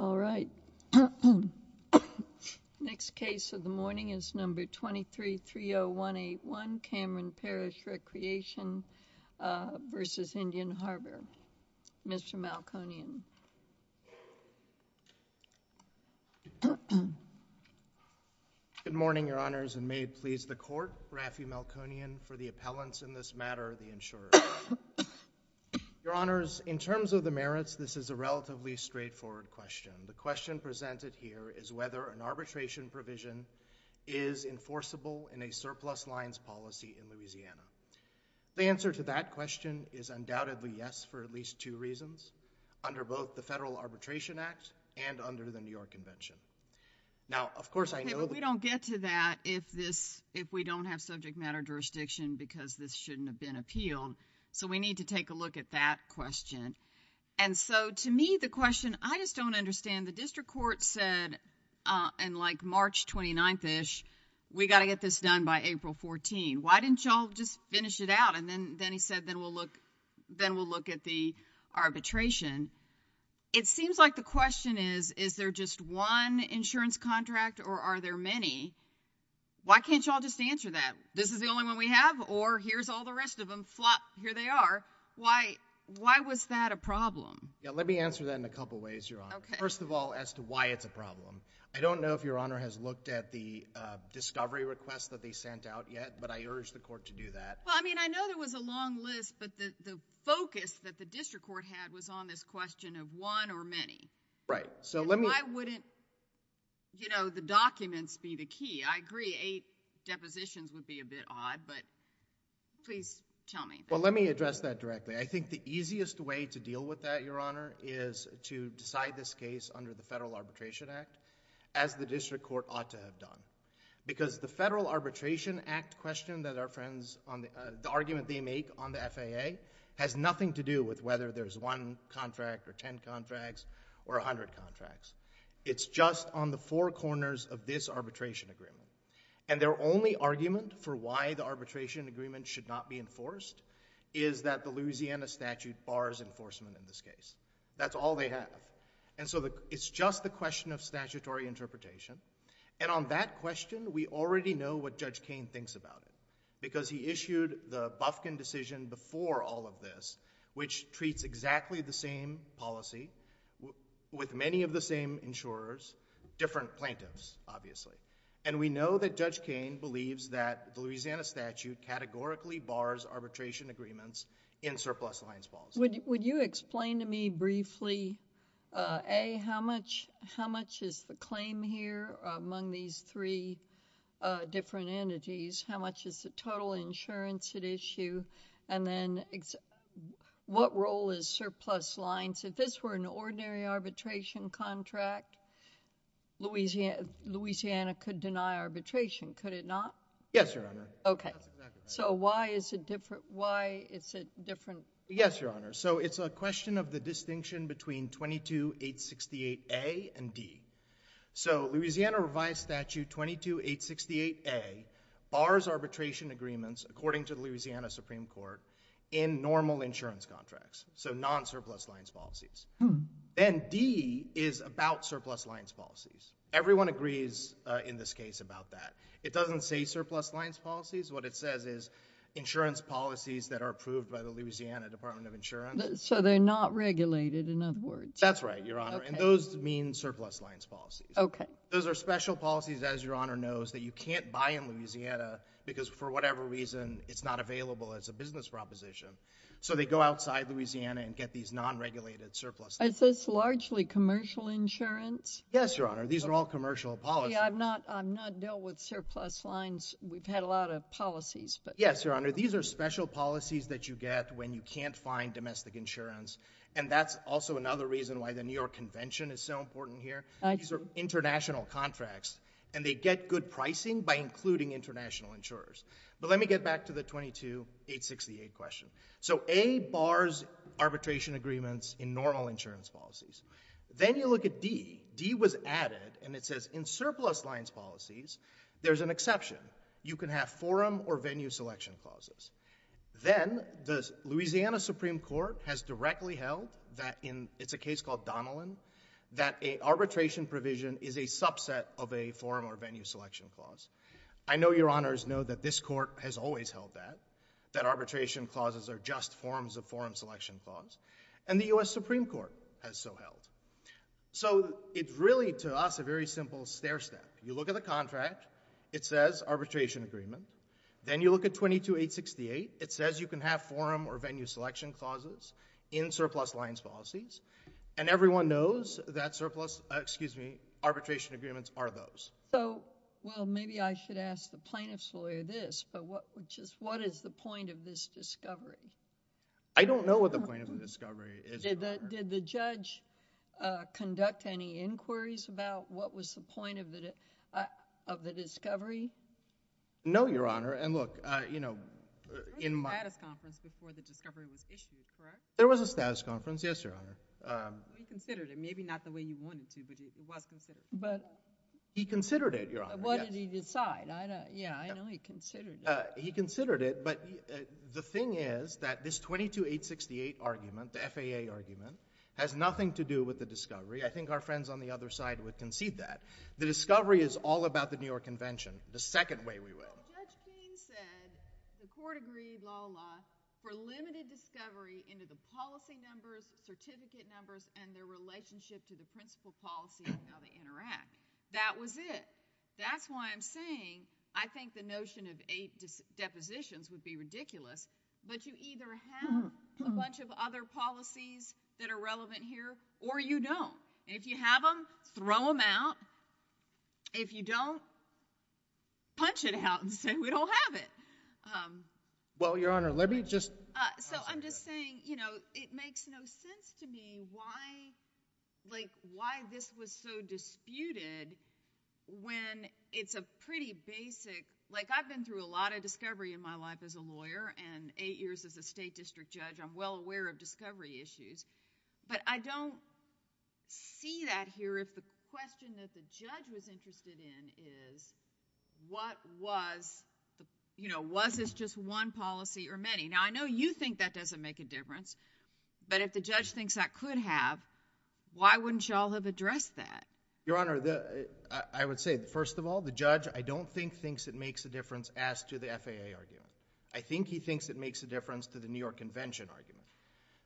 All right, next case of the morning is number 23-30181 Cameron Parish Recreation v. Indian Harbor. Mr. Malkonian. Good morning, Your Honors, and may it please the Court, Raffi Malkonian, for the appellants in this matter, the insurers. Your Honors, in terms of the merits, this is a relatively straightforward question. The question presented here is whether an arbitration provision is enforceable in a surplus lines policy in Louisiana. The answer to that question is undoubtedly yes, for at least two reasons, under both the Federal Arbitration Act and under the New York Convention. Now, of course, I know that— Okay, but we don't get to that if this, if we don't have subject matter jurisdiction because this shouldn't have been appealed, so we need to take a look at that question. And so, to me, the question, I just don't understand. The district court said in like March 29th-ish, we got to get this done by April 14th. Why didn't y'all just finish it out? And then, then he said, then we'll look, then we'll look at the arbitration. It seems like the question is, is there just one insurance contract or are there many? Why can't y'all just answer that? This is the only one we have or here's all the rest of them, flop, here they are. Why, why was that a problem? Yeah, let me answer that in a couple ways, Your Honor. Okay. First of all, as to why it's a problem. I don't know if Your Honor has looked at the discovery request that they sent out yet, but I urge the court to do that. Well, I mean, I know there was a long list, but the, the focus that the district court had was on this question of one or many. Right, so let me— And why wouldn't, you know, the documents be the key? I agree, eight depositions would be a bit odd, but please tell me. Well, let me address that directly. I think the easiest way to deal with that, Your Honor, is to decide this case under the Federal Arbitration Act, as the district court ought to have done. Because the Federal Arbitration Act question that our friends on the, the argument they make on the FAA has nothing to do with whether there's one contract or ten contracts or a hundred contracts. It's just on the four corners of this arbitration agreement. And their only argument for why the arbitration agreement should not be enforced is that the Louisiana statute bars enforcement in this case. That's all they have. And so the, it's just the question of statutory interpretation. And on that question, we already know what Judge Kain thinks about it, because he issued the Bufkin decision before all of this, which treats exactly the same policy with many of the same insurers, different plaintiffs, obviously. And we know that Judge Kain believes that the Louisiana statute categorically bars arbitration agreements in surplus lines policy. Would you explain to me briefly, A, how much, how much is the claim here among these three different entities? How much is the total insurance at issue? And then, what role is surplus lines? If this were an ordinary arbitration contract, Louisiana could deny arbitration could it not? Yes, Your Honor. Okay. That's exactly right. So, why is it different? Why is it different? Yes, Your Honor. So, it's a question of the distinction between 22868A and D. So, Louisiana revised statute 22868A bars arbitration agreements, according to the Louisiana Supreme Court, in normal insurance contracts. So, non-surplus lines policies. Then, D is about surplus lines policies. Everyone agrees in this case about that. It doesn't say surplus lines policies. What it says is insurance policies that are approved by the Louisiana Department of Insurance. So, they're not regulated, in other words? That's right, Your Honor. And those mean surplus lines policies. Okay. Those are special policies, as Your Honor knows, that you can't buy in Louisiana because for whatever reason, it's not available as a business proposition. So, they go outside Louisiana and get these non-regulated surplus lines. Is this largely commercial insurance? Yes, Your Honor. These are all commercial policies. See, I'm not dealt with surplus lines. We've had a lot of policies, but... Yes, Your Honor. These are special policies that you get when you can't find domestic insurance. And that's also another reason why the New York Convention is so important here. These are international contracts, and they get good pricing by including international insurers. But let me get back to the 22868 question. So, A bars arbitration agreements in normal insurance policies. Then you look at D. D was added, and it says in surplus lines policies, there's an exception. You can have forum or venue selection clauses. Then the Louisiana Supreme Court has directly held that in... It's a case called Donilon, that an arbitration provision is a subset of a forum or venue selection clause. I know Your Honors know that this court has always held that, that arbitration clauses are just forms of forum selection clause. And the U.S. Supreme Court has so held. So, it's really to us a very simple stair step. You look at the contract. It says arbitration agreement. Then you look at 22868. It says you can have forum or venue selection clauses in surplus lines policies. And everyone knows that surplus... Excuse me, arbitration agreements are those. So, well, maybe I should ask the plaintiff's point of this discovery. I don't know what the plaintiff's discovery is, Your Honor. Did the judge conduct any inquiries about what was the point of the discovery? No, Your Honor. And look, you know, in my... There was a status conference before the discovery was issued, correct? There was a status conference, yes, Your Honor. He considered it. Maybe not the way you wanted to, but it was considered. But... He considered it, Your Honor, yes. What did he decide? Yeah, I know he considered it, but the thing is that this 22868 argument, the FAA argument, has nothing to do with the discovery. I think our friends on the other side would concede that. The discovery is all about the New York Convention, the second way we would... Well, Judge King said the court agreed, la, la, la, for limited discovery into the policy numbers, certificate numbers, and their relationship to the principal policy and how they interact. That was it. That's why I'm saying, I think the notion of eight depositions would be ridiculous, but you either have a bunch of other policies that are relevant here, or you don't. If you have them, throw them out. If you don't, punch it out and say we don't have it. Well, Your Honor, let me just... I'm just saying, you know, it makes no sense to me why this was so disputed when it's a pretty basic... I've been through a lot of discovery in my life as a lawyer, and eight years as a state district judge, I'm well aware of discovery issues, but I don't see that here if the question that the judge was interested in is what was... was this just one policy or many? Now, I know you think that doesn't make a difference, but if the judge thinks that could have, why wouldn't y'all have addressed that? Your Honor, I would say, first of all, the judge, I don't think, thinks it makes a difference as to the FAA argument. I think he thinks it makes a difference to the New York Convention argument,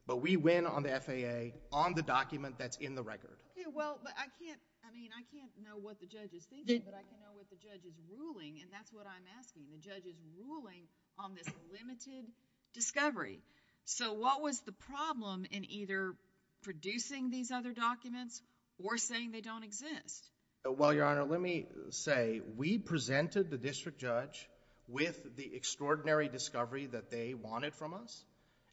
but we win on the FAA, on the document that's in the record. Yeah, well, but I can't... I mean, I can't know what the judge is thinking, but I can know what the judge is ruling, and that's what I'm asking. The judge is ruling on this limited discovery, so what was the problem in either producing these other documents or saying they don't exist? Well, Your Honor, let me say, we presented the district judge with the extraordinary discovery that they wanted from us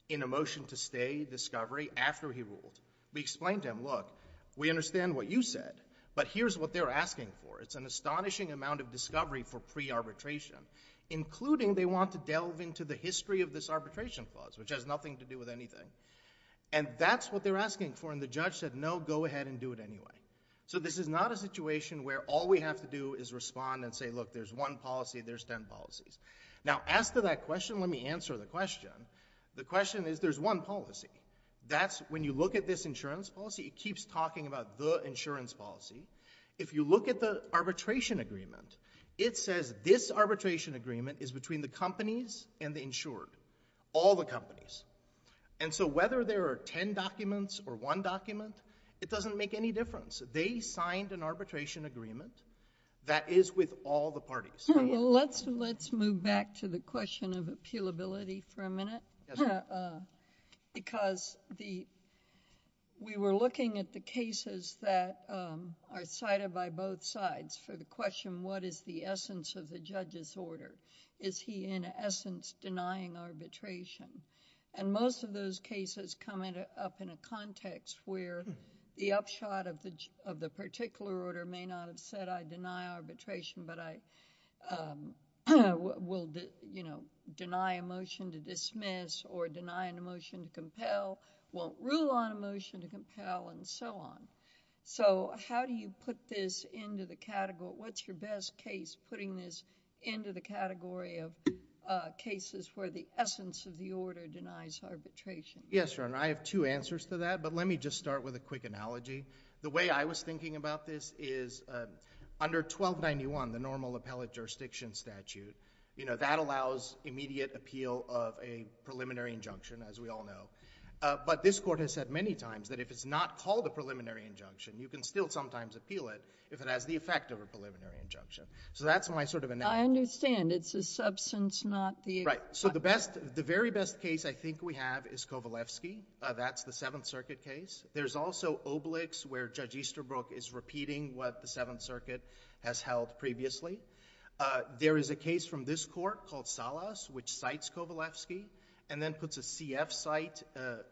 in a motion to stay discovery after he ruled. We explained to him, look, we understand what you said, but here's what they're asking for. It's an astonishing amount of discovery for pre-arbitration, including they want to delve into the history of this arbitration clause, which has nothing to do with anything, and that's what they're asking for, and the judge said, no, go ahead and do it anyway. So this is not a situation where all we have to do is respond and say, look, there's one policy, there's ten policies. Now, as to that question, let me answer the question. The question is, there's one policy. That's when you look at this insurance policy, it keeps talking about the insurance policy. If you look at the arbitration agreement, it says this arbitration agreement is between the companies and the insured, all the companies, and so whether there are ten documents or one document, it doesn't make any difference. They signed an arbitration agreement that is with all the parties. Let's move back to the question of appealability for a minute, because we were looking at the cases that are cited by both sides for the question, what is the essence of the judge's policy in essence denying arbitration? And most of those cases come up in a context where the upshot of the particular order may not have said I deny arbitration, but I will, you know, deny a motion to dismiss or deny a motion to compel, won't rule on a motion to compel, and so on. So how do you put this into the category, what's your best case putting this into the category of cases where the essence of the order denies arbitration? Yes, Your Honor, I have two answers to that, but let me just start with a quick analogy. The way I was thinking about this is under 1291, the normal appellate jurisdiction statute, you know, that allows immediate appeal of a preliminary injunction, as we all know, but this Court has said many times that if it's not called a preliminary injunction, you can still sometimes appeal it if it has the effect of a preliminary injunction. So that's my sort of analogy. I understand. It's the substance, not the effect. Right. So the best, the very best case I think we have is Kovalevsky. That's the Seventh Circuit case. There's also Obelix, where Judge Easterbrook is repeating what the Seventh Circuit has held previously. There is a case from this Court called Salas, which cites Kovalevsky, and then puts a CF cite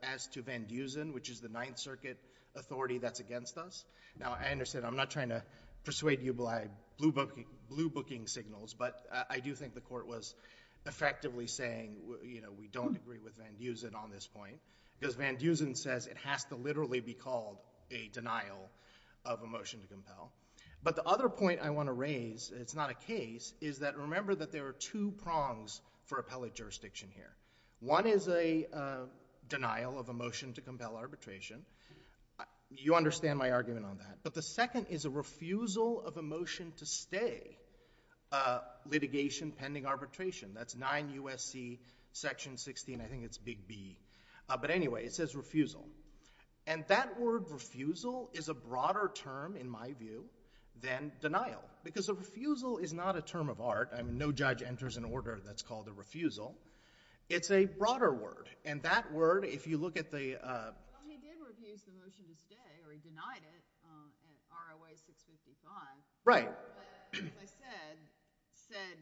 as to Van Dusen, which is the Ninth Circuit authority that's against us. Now I understand. I'm not trying to persuade you by blue booking signals, but I do think the Court was effectively saying, you know, we don't agree with Van Dusen on this point, because Van Dusen says it has to literally be called a denial of a motion to compel. But the other point I want to raise, and it's not a case, is that remember that there are two prongs for appellate jurisdiction here. One is a denial of a motion to compel arbitration. You understand my argument on that. But the second is a refusal of a motion to stay litigation pending arbitration. That's 9 U.S.C. Section 16, I think it's Big B. But anyway, it says refusal. And that word refusal is a broader term in my view than denial, because a refusal is not a term of art. I mean, no judge enters an order that's called a refusal. It's a broader word. And that word, if you look at the... Well, he did refuse the motion to stay, or he denied it, at ROA 655. Right. But as I said, said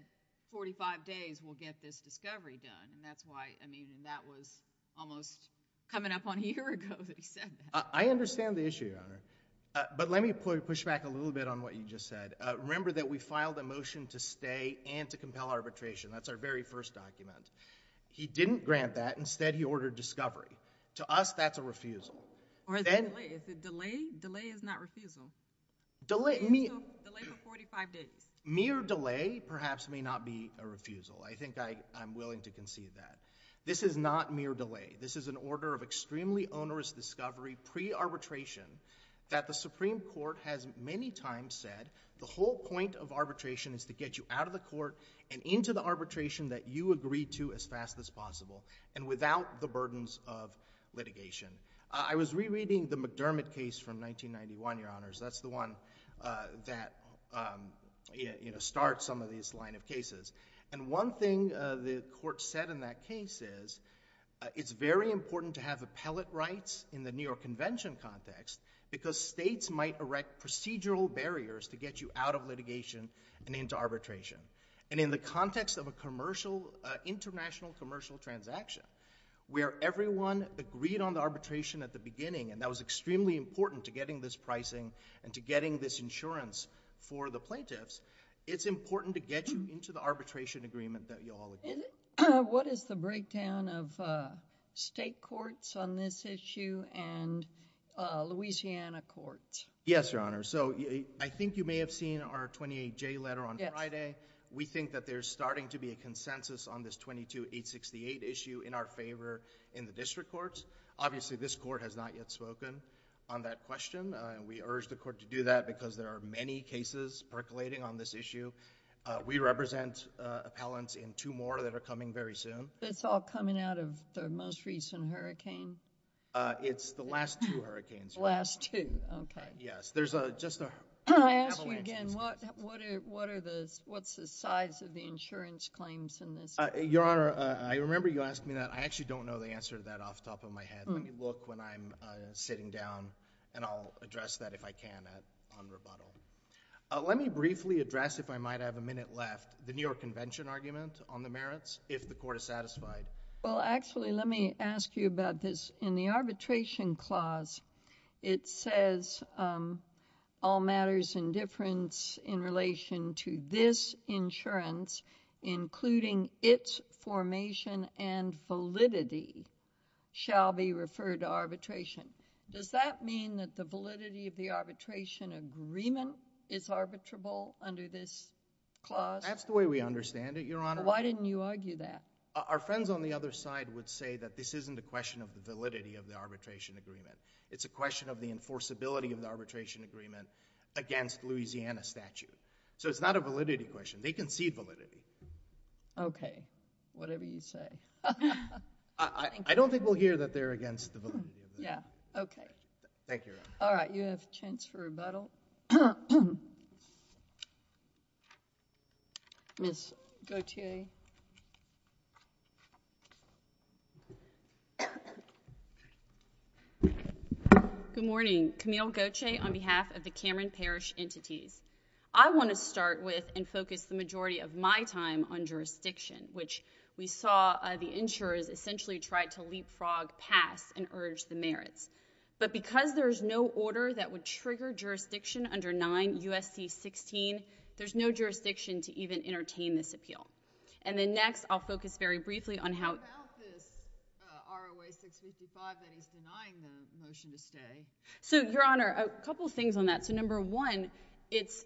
45 days, we'll get this discovery done. And that's why, I mean, that was almost coming up on a year ago that he said that. I understand the issue, Your Honor. But let me push back a little bit on what you just said. Remember that we filed a motion to stay and to compel arbitration. That's our very first document. He didn't grant that. Instead, he ordered discovery. To us, that's a refusal. Or is it delay? Is it delay? Delay is not refusal. Delay... Delay for 45 days. Mere delay, perhaps, may not be a refusal. I think I'm willing to concede that. This is not mere delay. This is an order of extremely onerous discovery, pre-arbitration, that the Supreme Court has many times said, the whole point of arbitration is to get you out of court and into the arbitration that you agree to as fast as possible and without the burdens of litigation. I was rereading the McDermott case from 1991, Your Honors. That's the one that, you know, starts some of these line of cases. And one thing the court said in that case is, it's very important to have appellate rights in the New York Convention context because states might erect procedural barriers to get you out of litigation and into arbitration. And in the context of an international commercial transaction where everyone agreed on the arbitration at the beginning, and that was extremely important to getting this pricing and to getting this insurance for the plaintiffs, it's important to get you into the arbitration agreement that you all agree to. What is the breakdown of state courts on this issue and Louisiana courts? Yes, Your Honor. So I think you may have seen our 28J letter on Friday. We think that there's starting to be a consensus on this 22868 issue in our favor in the district courts. Obviously, this court has not yet spoken on that question. We urge the court to do that because there are many cases percolating on this issue. We represent appellants in two more that are coming very soon. It's all coming out of the most recent hurricane? It's the last two hurricanes. The last two, okay. Yes. There's just an avalanche of cases. Can I ask you again, what are the, what's the size of the insurance claims in this case? Your Honor, I remember you asked me that. I actually don't know the answer to that off Let me briefly address, if I might have a minute left, the New York Convention argument on the merits, if the court is satisfied. Well, actually, let me ask you about this. In the arbitration clause, it says all matters in difference in relation to this insurance, including its formation and validity, shall be referred to arbitration. Does that mean that the validity of the arbitration agreement is arbitrable under this clause? That's the way we understand it, Your Honor. Why didn't you argue that? Our friends on the other side would say that this isn't a question of the validity of the arbitration agreement. It's a question of the enforceability of the arbitration agreement against Louisiana statute. So, it's not a validity question. They concede validity. Okay. Whatever you say. I don't think we'll hear that they're against the validity of it. Yeah. Okay. Thank you, Your Honor. All right. You have a chance for rebuttal. Ms. Gauthier. Good morning. Camille Gauthier on behalf of the Cameron Parish Entities. I want to start with and focus the majority of my time on jurisdiction, which we saw the insurers essentially try to leapfrog past and urge the merits. But because there's no order that would trigger jurisdiction under 9 U.S.C. 16, there's no jurisdiction to even entertain this appeal. And then next, I'll focus very briefly on how— How about this R.O.A. 655 that he's denying the motion to stay? So, Your Honor, a couple of things on that. So, number one, it's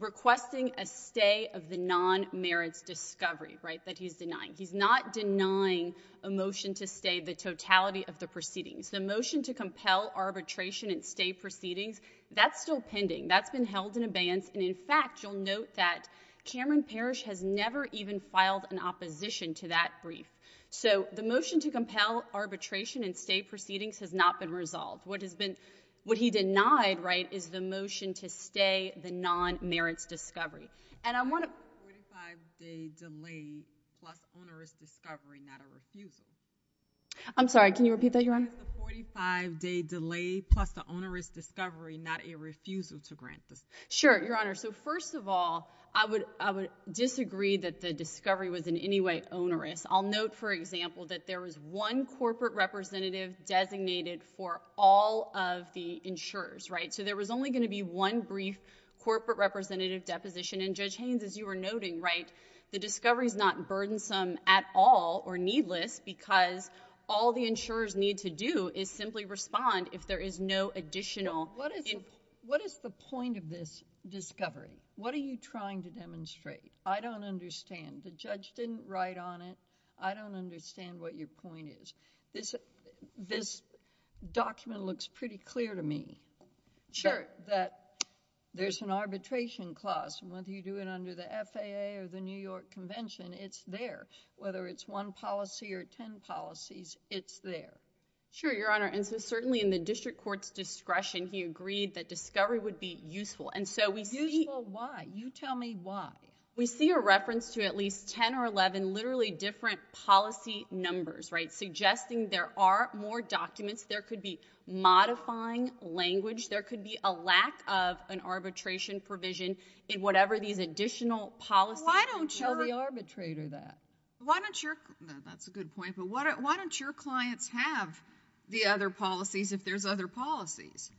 requesting a stay of the non-merits discovery, right, that he's denying. He's not denying a motion to stay the totality of the proceedings. The motion to compel arbitration and stay proceedings, that's still pending. That's been held in abeyance. And in fact, you'll note that Cameron Parish has never even filed an opposition to that brief. So, the motion to compel arbitration and stay proceedings has not been resolved. What has been—what he denied, right, is the motion to stay the non-merits discovery. And I want to— It's a 45-day delay plus onerous discovery, not a refusal. I'm sorry, can you repeat that, Your Honor? It's a 45-day delay plus the onerous discovery, not a refusal to grant the— Sure, Your Honor. So, first of all, I would disagree that the discovery was in any way one corporate representative designated for all of the insurers, right? So, there was only going to be one brief corporate representative deposition. And Judge Haynes, as you were noting, right, the discovery is not burdensome at all or needless because all the insurers need to do is simply respond if there is no additional— What is the point of this discovery? What are you trying to demonstrate? I don't understand. The judge didn't write on it. I don't understand what your point is. This document looks pretty clear to me. Sure. That there's an arbitration clause and whether you do it under the FAA or the New York Convention, it's there. Whether it's one policy or ten policies, it's there. Sure, Your Honor. And so, certainly in the district court's discretion, he agreed that discovery would be useful. And so, we see— Useful, why? You tell me why. We see a reference to at least ten or eleven literally different policy numbers, right, suggesting there are more documents. There could be modifying language. There could be a lack of an arbitration provision in whatever these additional policies— Why don't you— You're the arbitrator there. Why don't your—that's a good point, but why don't your clients have the other policies if there's other policies?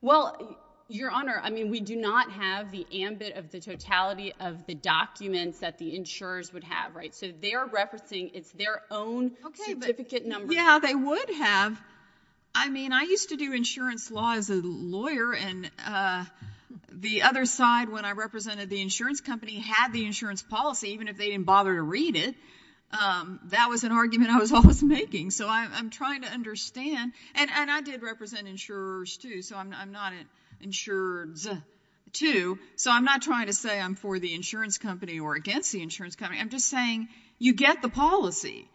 Well, Your Honor, I mean, we do not have the ambit of the totality of the documents that the insurers would have, right? So, they're referencing—it's their own certificate number. Yeah, they would have. I mean, I used to do insurance law as a lawyer, and the other side when I represented the insurance company had the insurance policy, even if they didn't bother to read it. That was an argument I was always making. So, I'm trying to understand. And I did represent insurers, too, so I'm not an insurer-zuh, too. So, I'm not trying to say I'm for the insurance company or against the insurance company. I'm just saying you get the policy,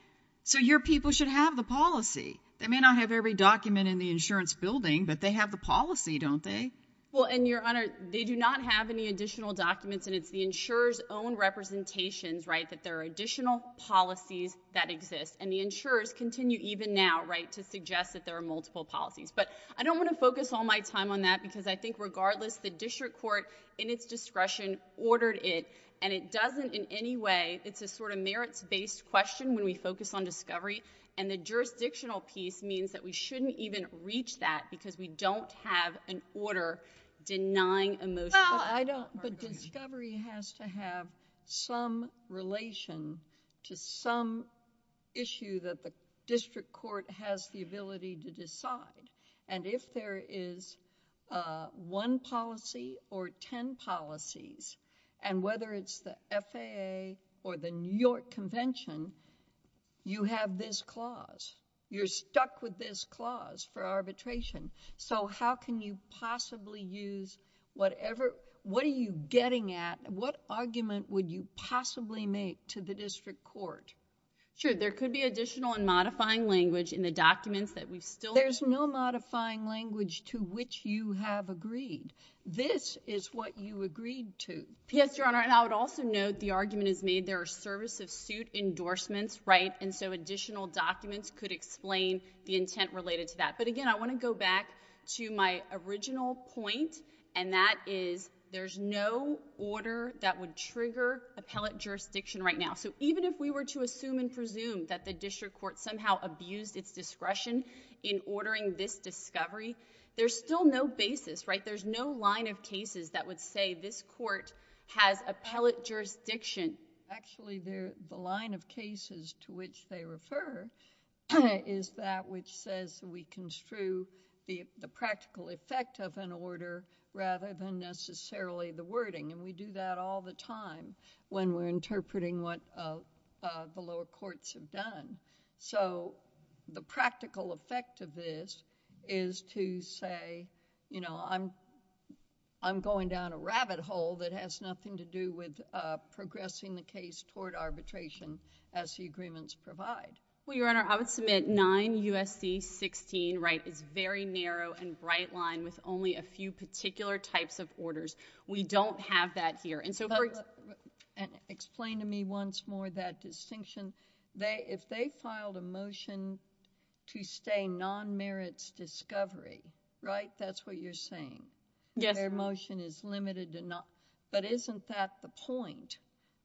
so your people should have the policy. They may not have every document in the insurance building, but they have the policy, don't they? Well, and Your Honor, they do not have any additional documents, and it's the insurer's own representations, right, that there are additional policies that exist. And the insurers continue even now, right, to suggest that there are multiple policies. But I don't want to focus all my time on that because I think regardless, the district court, in its discretion, ordered it, and it doesn't in any way—it's a sort of merits-based question when we focus on discovery, and the jurisdictional piece means that we shouldn't even reach that because we don't have an order denying a motion. Well, I don't—but discovery has to have some relation to some issue that the district court has the ability to decide. And if there is one policy or ten policies, and whether it's the FAA or the New York Convention, you have this clause. You're stuck with this So, what are you getting at? What argument would you possibly make to the district court? Sure. There could be additional and modifying language in the documents that we've still— There's no modifying language to which you have agreed. This is what you agreed to. Yes, Your Honor, and I would also note the argument is made there are service of suit endorsements, right, and so additional documents could explain the intent related to that. But again, I want to go back to my original point, and that is there's no order that would trigger appellate jurisdiction right now. So, even if we were to assume and presume that the district court somehow abused its discretion in ordering this discovery, there's still no basis, right? There's no line of cases that would say this court has appellate jurisdiction. Actually, the line of cases to which they refer is that which says we construe the practical effect of an order rather than necessarily the wording, and we do that all the time when we're interpreting what the lower courts have done. So, the practical effect of this is to say, you know, I'm going down a rabbit hole that has nothing to do with progressing the case toward arbitration as the agreements provide. Well, Your Honor, I would submit 9 U.S.C. 16, right, is very narrow and bright line with only a few particular types of orders. We don't have that here, and so— Explain to me once more that distinction. If they filed a motion to stay non-merits discovery, right, that's what you're saying? Yes. Their motion is limited to non—but isn't that the point,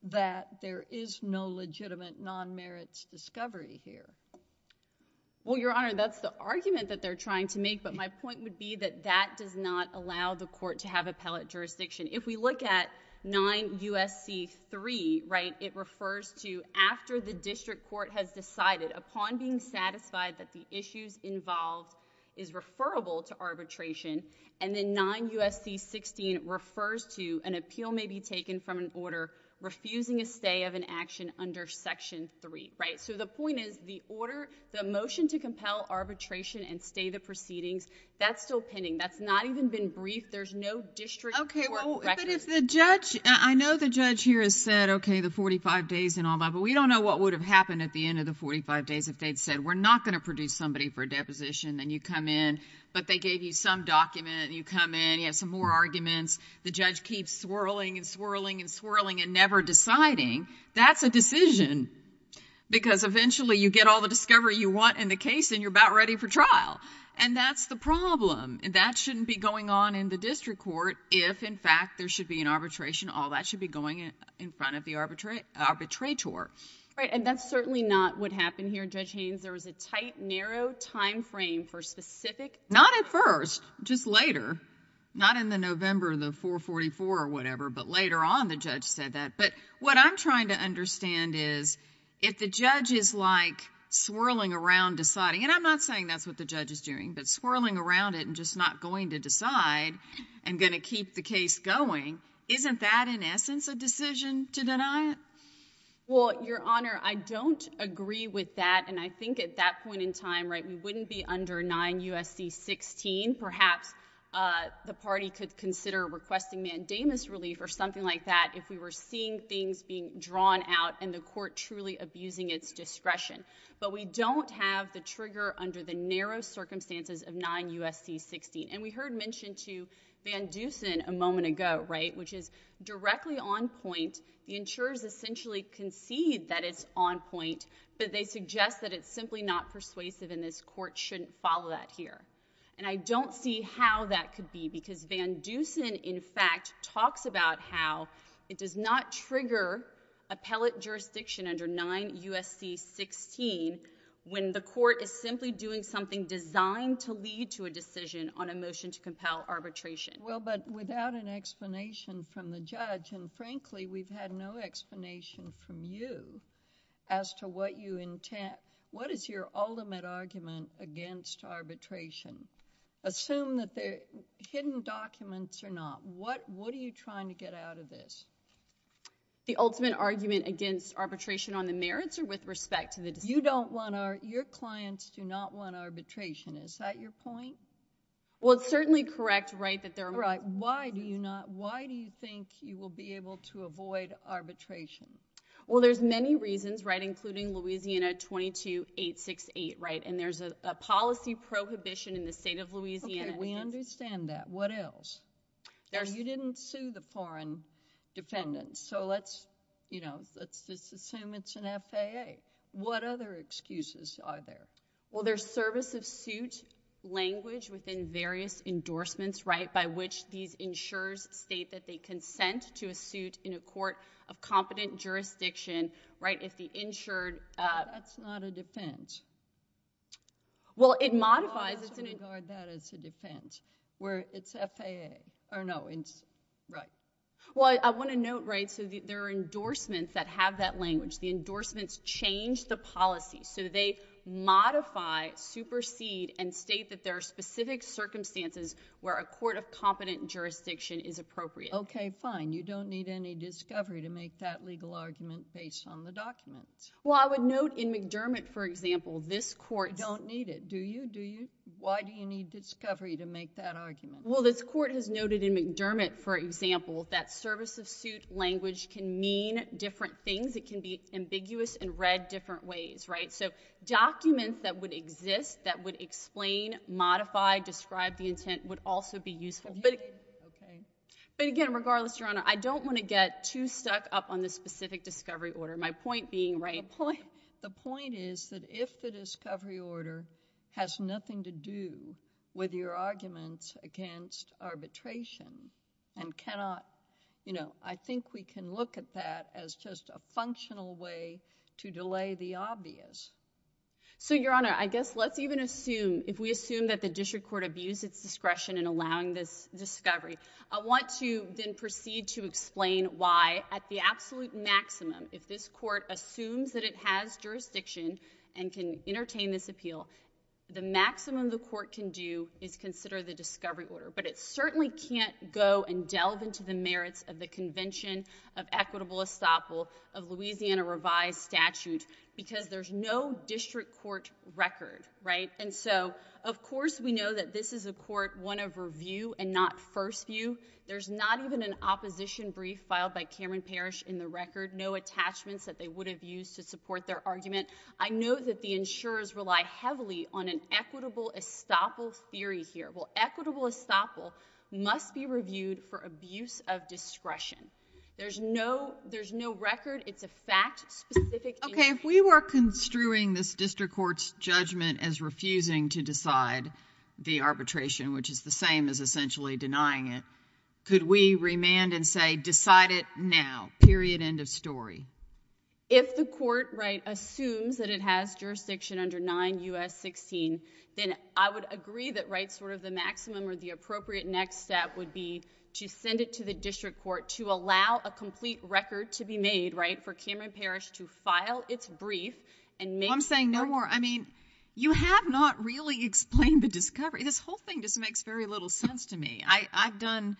that there is no legitimate non-merits discovery here? Well, Your Honor, that's the argument that they're trying to make, but my point would be that that does not allow the court to have appellate jurisdiction. If we look at 9 U.S.C. 3, right, it refers to after the district court has decided, upon being satisfied that the issues involved is referable to arbitration, and then 9 U.S.C. 16 refers to an appeal may be taken from an order refusing a stay of an action under Section 3, right? So the point is, the order, the motion to compel arbitration and stay the proceedings, that's still pending. That's not even been briefed. There's no district court record. Okay, well, but if the judge—I know the judge here has said, okay, the 45 days and all that, but we don't know what would have happened at the end of the 45 days if they'd said, we're not going to produce somebody for a deposition. Then you come in, but they gave you some document, and you come in, you have some more arguments. The judge keeps swirling and swirling and swirling and never deciding. That's a decision, because eventually you get all the discovery you want in the case, and you're about ready for trial. And that's the problem. That shouldn't be going on in the district court if, in fact, there should be an arbitration. All that should be going in front of the arbitrator. Right, and that's certainly not what happened here, Judge Haynes. There was a tight, narrow time frame for specific— Not at first, just later. Not in the November of the 444 or whatever, but later on the judge said that. But what I'm trying to understand is, if the judge is like swirling around deciding—and I'm not saying that's what the judge is doing, but swirling around it and just not going to decide and going to keep the case going, isn't that, in essence, a decision to deny it? Well, Your Honor, I don't agree with that. And I think at that point in time, we wouldn't be under 9 U.S.C. 16. Perhaps the party could consider requesting mandamus relief or something like that if we were seeing things being drawn out and the court truly abusing its discretion. But we don't have the trigger under the narrow circumstances of 9 U.S.C. 16. And we heard mentioned to Van Dusen a moment ago, right, which is directly on point. The insurers essentially concede that it's on point, but they suggest that it's simply not persuasive and this court shouldn't follow that here. And I don't see how that could be because Van Dusen, in fact, talks about how it does not trigger appellate jurisdiction under 9 U.S.C. 16 when the court is simply doing something designed to lead to a decision on a motion to compel arbitration. Well, but without an explanation from the judge, and frankly, we've had no explanation from you as to what you intend... what is your ultimate argument against arbitration? Assume that they're hidden documents or not. What are you trying to get out of this? The ultimate argument against arbitration on the merits or with respect to the decision? You don't want our... your clients do not want arbitration. Is that your point? Well, it's certainly correct, right, that there are... Right. Why do you not... why do you think you will be able to avoid arbitration? Well, there's many reasons, right, including Louisiana 22868, right, and there's a policy prohibition in the state of Louisiana... Okay. We understand that. What else? You didn't sue the foreign defendants, so let's, you know, let's just assume it's an arbitration. What other excuses are there? Well, there's service of suit language within various endorsements, right, by which these insurers state that they consent to a suit in a court of competent jurisdiction, right, if the insured... That's not a defense. Well, it modifies... I'm not going to regard that as a defense, where it's FAA, or no, it's... right. Well, I want to note, right, so there are endorsements that have that language. The So they modify, supersede, and state that there are specific circumstances where a court of competent jurisdiction is appropriate. Okay, fine. You don't need any discovery to make that legal argument based on the documents. Well, I would note in McDermott, for example, this court... You don't need it, do you? Do you? Why do you need discovery to make that argument? Well, this court has noted in McDermott, for example, that service of suit language can mean different things. It can be ambiguous and read different ways, right? So documents that would exist, that would explain, modify, describe the intent would also be useful. But... Okay. But again, regardless, Your Honor, I don't want to get too stuck up on the specific discovery order. My point being, right... The point is that if the discovery order has nothing to do with your arguments against arbitration and cannot... You know, I think we can look at that as just a functional way to delay the obvious. So Your Honor, I guess let's even assume, if we assume that the district court abused its discretion in allowing this discovery, I want to then proceed to explain why, at the absolute maximum, if this court assumes that it has jurisdiction and can entertain this appeal, the maximum the court can do is consider the discovery order. But it certainly can't go and delve into the merits of the Convention of Equitable Estoppel of Louisiana revised statute because there's no district court record, right? And so, of course, we know that this is a court, one of review and not first view. There's not even an opposition brief filed by Cameron Parish in the record, no attachments that they would have used to support their argument. I know that the insurers rely heavily on an equitable estoppel theory here. Well, equitable estoppel must be reviewed for abuse of discretion. There's no record. It's a fact-specific... Okay. If we were construing this district court's judgment as refusing to decide the arbitration, which is the same as essentially denying it, could we remand and say, decide it now, period, end of story? If the court, right, assumes that it has jurisdiction under 9 U.S. 16, then I would agree that, right, sort of the maximum or the appropriate next step would be to send it to the district court to allow a complete record to be made, right, for Cameron Parish to file its brief and make... I'm saying no more. I mean, you have not really explained the discovery. This whole thing just makes very little sense to me. I've done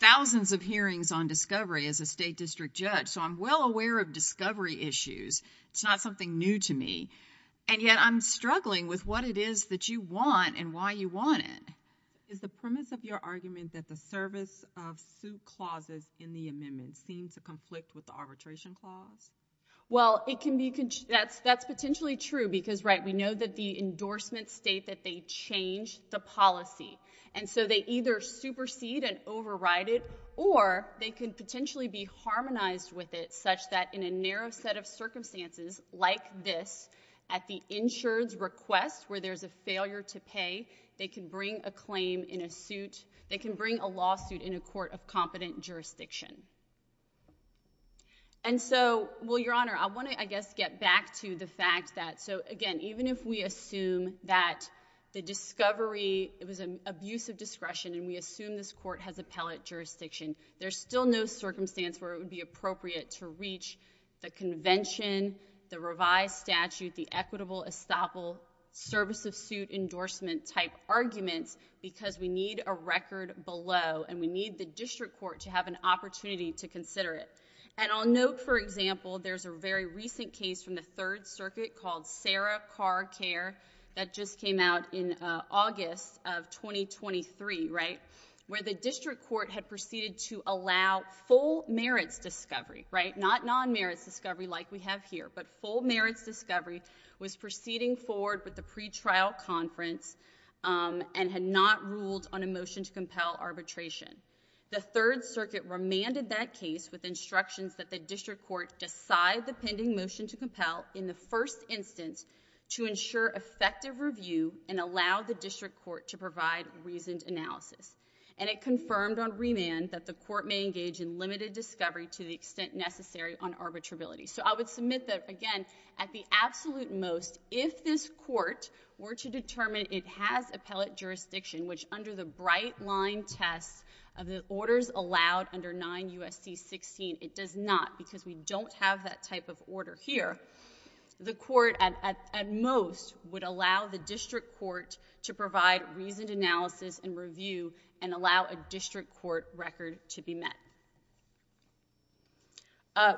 thousands of hearings on discovery as a state district judge, so I'm well aware of discovery issues. It's not something new to me, and yet I'm struggling with what it is that you want and why you want it. Is the premise of your argument that the service of suit clauses in the amendment seems to conflict with the arbitration clause? Well, it can be... That's potentially true because, right, we know that the endorsements state that they change the policy, and so they either supersede and override it, or they could potentially be harmonized with it such that in a narrow set of circumstances like this, at the insured's request where there's a failure to pay, they can bring a claim in a suit... They can bring a lawsuit in a court of competent jurisdiction. And so, well, Your Honor, I want to, I guess, get back to the fact that... So, again, even if we assume that the discovery, it was an abuse of discretion, and we assume this court has appellate jurisdiction, there's still no circumstance where it would be appropriate to reach the convention, the revised statute, the equitable estoppel, service of suit endorsement type arguments because we need a record below, and we need the district court to have an opportunity to consider it. And I'll note, for example, there's a very recent case from the Third Circuit called Sarah Carr Care that just came out in August of 2023, right, where the district court had proceeded to allow full merits discovery, right, not non-merits discovery like we have here, but full merits discovery was proceeding forward with the pretrial conference and had not ruled on a motion to compel arbitration. The Third Circuit remanded that case with instructions that the district court decide the pending motion to compel in the first instance to ensure effective review and allow the district court to provide reasoned analysis. And it confirmed on remand that the court may engage in limited discovery to the extent necessary on arbitrability. So I would submit that, again, at the absolute most, if this court were to determine it has appellate jurisdiction, which under the bright line test of the orders allowed under 9 U.S.C. 16, it does not because we don't have that type of order here, the court at most would allow the district court to provide reasoned analysis and review and allow a district court record to be met.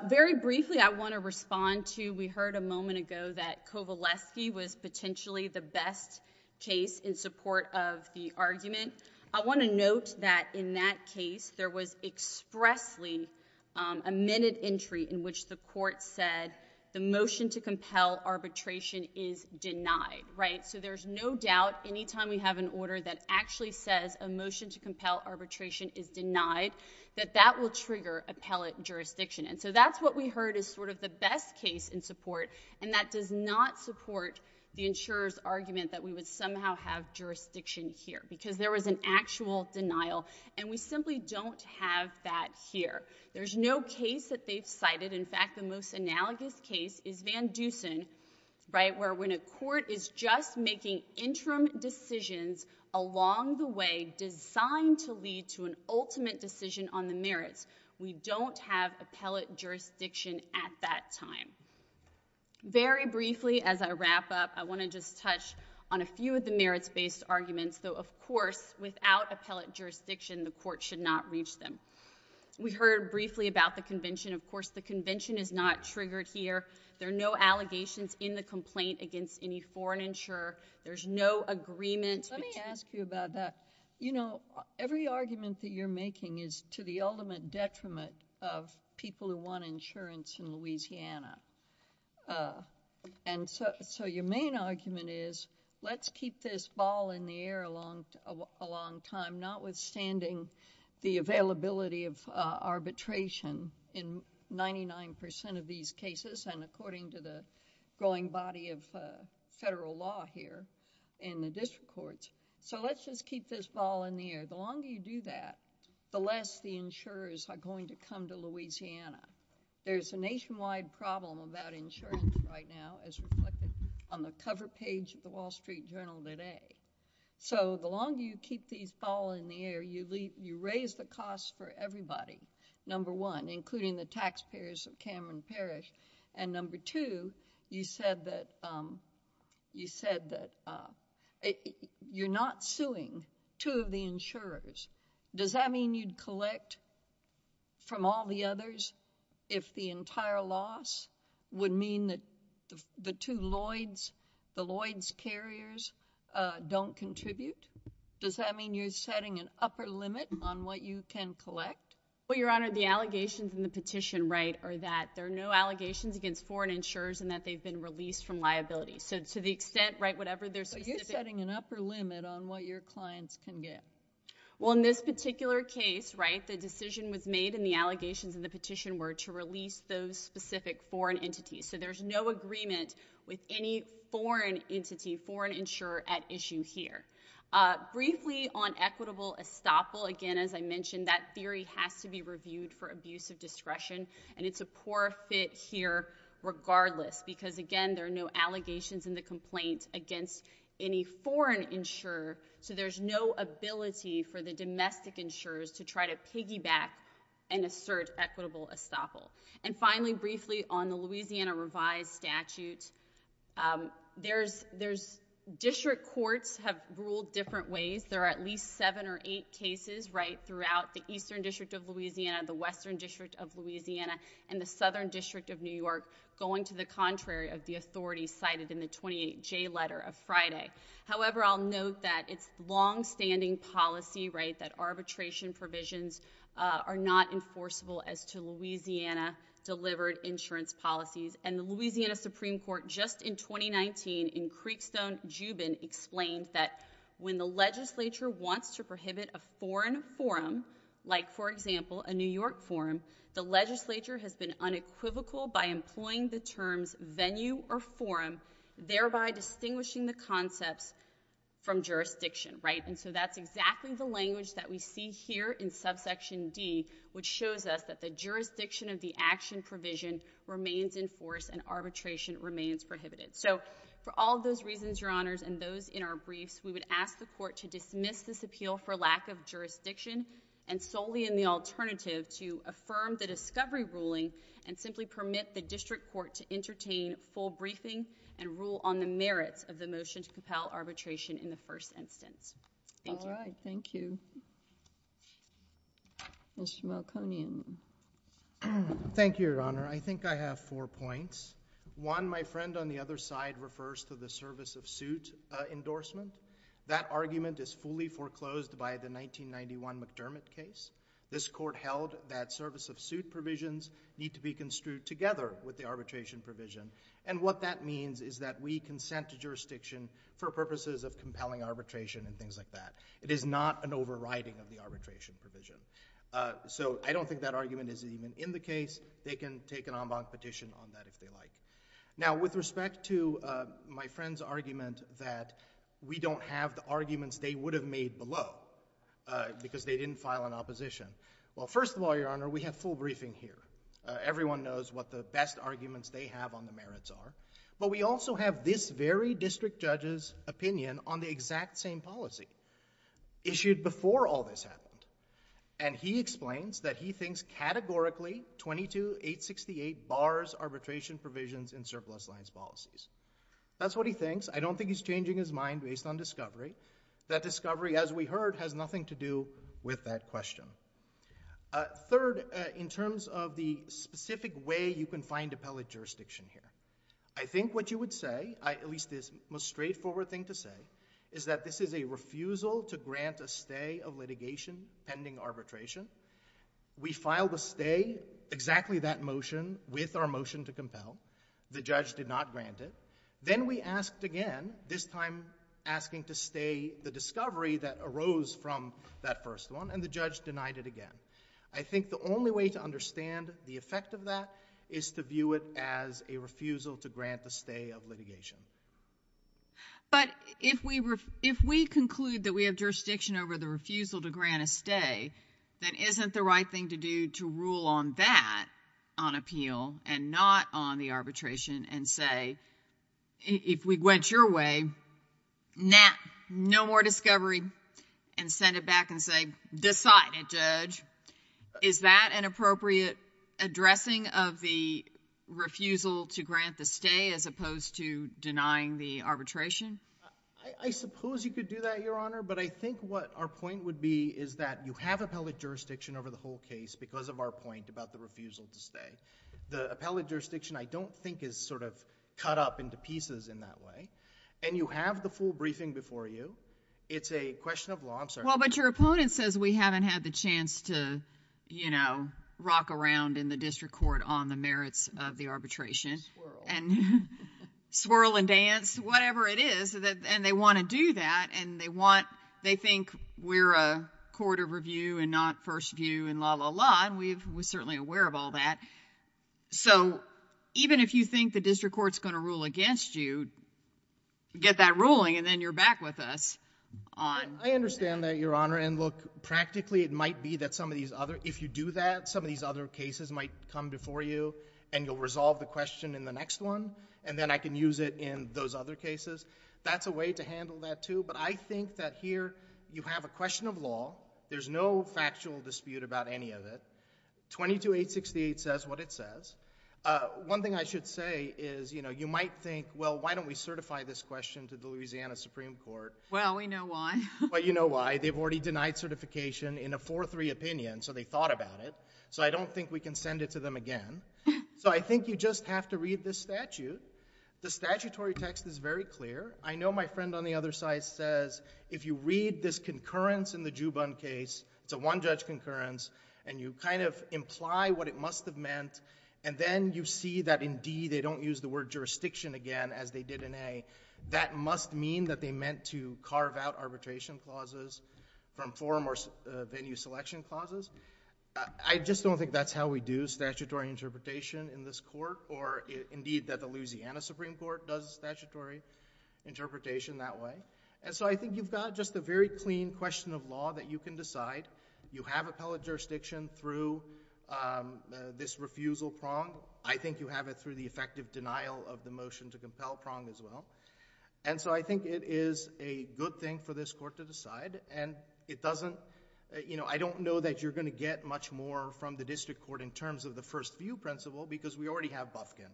Very briefly, I want to respond to, we heard a moment ago that Kovaleski was potentially the best case in support of the argument. I want to note that in that case, there was expressly a minute entry in which the court said the motion to compel arbitration is denied, right? So there's no doubt any time we have an order that actually says a motion to compel arbitration is denied, that that will trigger appellate jurisdiction. And so that's what we heard is sort of the best case in support, and that does not support the insurer's argument that we would somehow have jurisdiction here because there was an actual denial, and we simply don't have that here. There's no case that they've cited. In fact, the most analogous case is Van Dusen, right, where when a court is just making interim decisions along the way designed to lead to an ultimate decision on the merits, we don't have appellate jurisdiction at that time. Very briefly, as I wrap up, I want to just touch on a few of the merits-based arguments, though of course, without appellate jurisdiction, the court should not reach them. We heard briefly about the convention. Of course, the convention is not triggered here. There are no allegations in the complaint against any foreign insurer. There's no agreement between— Let me ask you about that. You know, every argument that you're making is to the ultimate detriment of people who want insurance in Louisiana, and so your main argument is, let's keep this ball in the air a long time, notwithstanding the availability of arbitration in 99% of these cases and according to the growing body of federal law here in the district courts, so let's just keep this ball in the air. The longer you do that, the less the insurers are going to come to Louisiana. There's a nationwide problem about insurance right now, as reflected on the cover page of the Wall Street Journal today. So the longer you keep this ball in the air, you raise the cost for everybody, number one, including the taxpayers of Cameron Parish, and number two, you said that you're not suing two of the insurers. Does that mean you'd collect from all the others if the entire loss would mean that the two Lloyds, the Lloyds carriers don't contribute? Does that mean you're setting an upper limit on what you can collect? Well, Your Honor, the allegations in the petition, right, are that there are no allegations against foreign insurers and that they've been released from liability. So to the extent, right, whatever their specific— Well, in this particular case, right, the decision was made and the allegations in the petition were to release those specific foreign entities. So there's no agreement with any foreign entity, foreign insurer at issue here. Briefly, on equitable estoppel, again, as I mentioned, that theory has to be reviewed for abuse of discretion, and it's a poor fit here regardless because, again, there are no allegations in the complaint against any foreign insurer, so there's no ability for the domestic insurers to try to piggyback and assert equitable estoppel. And finally, briefly, on the Louisiana revised statute, there's—district courts have ruled different ways. There are at least seven or eight cases, right, throughout the Eastern District of Louisiana, the Western District of Louisiana, and the Southern District of New York going to the contrary of the authority cited in the 28J letter of Friday. However, I'll note that it's longstanding policy, right, that arbitration provisions are not enforceable as to Louisiana-delivered insurance policies, and the Louisiana Supreme Court just in 2019 in Creekstone-Jubin explained that when the legislature wants to prohibit a foreign forum, like, for example, a New York forum, the legislature has been unequivocal by employing the terms venue or forum, thereby distinguishing the concepts from jurisdiction, right? And so that's exactly the language that we see here in subsection D, which shows us that the jurisdiction of the action provision remains in force and arbitration remains prohibited. So for all those reasons, Your Honors, and those in our briefs, we would ask the court to dismiss this appeal for lack of jurisdiction and solely in the alternative to affirm the district court to entertain full briefing and rule on the merits of the motion to compel arbitration in the first instance. Thank you. All right. Thank you. Mr. Malconian. Thank you, Your Honor. I think I have four points. One, my friend on the other side refers to the service of suit endorsement. That argument is fully foreclosed by the 1991 McDermott case. This court held that service of suit provisions need to be construed together with the arbitration provision. And what that means is that we consent to jurisdiction for purposes of compelling arbitration and things like that. It is not an overriding of the arbitration provision. So I don't think that argument is even in the case. They can take an en banc petition on that if they like. Now, with respect to my friend's argument that we don't have the arguments they would have made below because they didn't file an opposition. Well, first of all, Your Honor, we have full briefing here. Everyone knows what the best arguments they have on the merits are. But we also have this very district judge's opinion on the exact same policy issued before all this happened. And he explains that he thinks categorically 22-868 bars arbitration provisions in surplus lines policies. That's what he thinks. I don't think he's changing his mind based on discovery. That discovery, as we heard, has nothing to do with that question. Third, in terms of the specific way you can find appellate jurisdiction here, I think what you would say, at least the most straightforward thing to say, is that this is a refusal to grant a stay of litigation pending arbitration. We filed a stay, exactly that motion, with our motion to compel. The judge did not grant it. Then we asked again, this time asking to stay the discovery that arose from that first one, and the judge denied it again. I think the only way to understand the effect of that is to view it as a refusal to grant the stay of litigation. But if we conclude that we have jurisdiction over the refusal to grant a stay, then isn't the right thing to do to rule on that on appeal and not on the arbitration and say, if we went your way, nah, no more discovery, and send it back and say, decide it, judge. Is that an appropriate addressing of the refusal to grant the stay as opposed to denying the arbitration? I suppose you could do that, Your Honor, but I think what our point would be is that you have appellate jurisdiction over the whole case because of our point about the refusal to stay. The appellate jurisdiction, I don't think, is sort of cut up into pieces in that way, and you have the full briefing before you. It's a question of law. I'm sorry. Well, but your opponent says we haven't had the chance to rock around in the district court on the merits of the arbitration and swirl and dance, whatever it is, and they want to do that, and they think we're a court of review and not first view and la, la, la, and we're certainly aware of all that. So even if you think the district court's going to rule against you, get that ruling, and then you're back with us on that. I understand that, Your Honor, and look, practically, it might be that if you do that, some of these other cases might come before you, and you'll resolve the question in the next one, and then I can use it in those other cases. That's a way to handle that, too, but I think that here you have a question of law. There's no factual dispute about any of it. 22-868 says what it says. One thing I should say is, you know, you might think, well, why don't we certify this question to the Louisiana Supreme Court? Well, we know why. Well, you know why. They've already denied certification in a 4-3 opinion, so they thought about it, so I don't think we can send it to them again. So I think you just have to read this statute. The statutory text is very clear. I know my friend on the other side says, if you read this concurrence in the Juban case, it's a one-judge concurrence, and you kind of imply what it must have meant, and then you see that, indeed, they don't use the word jurisdiction again, as they did in A, that must mean that they meant to carve out arbitration clauses from forum or venue selection clauses. I just don't think that's how we do statutory interpretation in this court, or, indeed, that the Louisiana Supreme Court does statutory interpretation that way. And so I think you've got just a very clean question of law that you can decide. You have appellate jurisdiction through this refusal prong. I think you have it through the effective denial of the motion to compel prong as well, and so I think it is a good thing for this court to decide, and it doesn't, you know, I don't know that you're going to get much more from the district court in terms of the first view principle, because we already have Bufkin,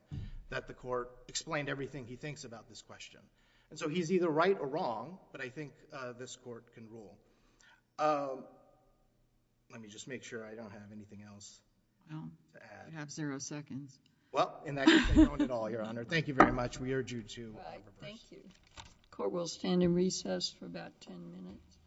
that the court explained everything he thinks about this question. And so he's either right or wrong, but I think this court can rule. Let me just make sure I don't have anything else to add. You have zero seconds. Well, in that case, I don't at all, Your Honor. Thank you very much. We urge you to reverse. Thank you. Court will stand in recess for about 10 minutes.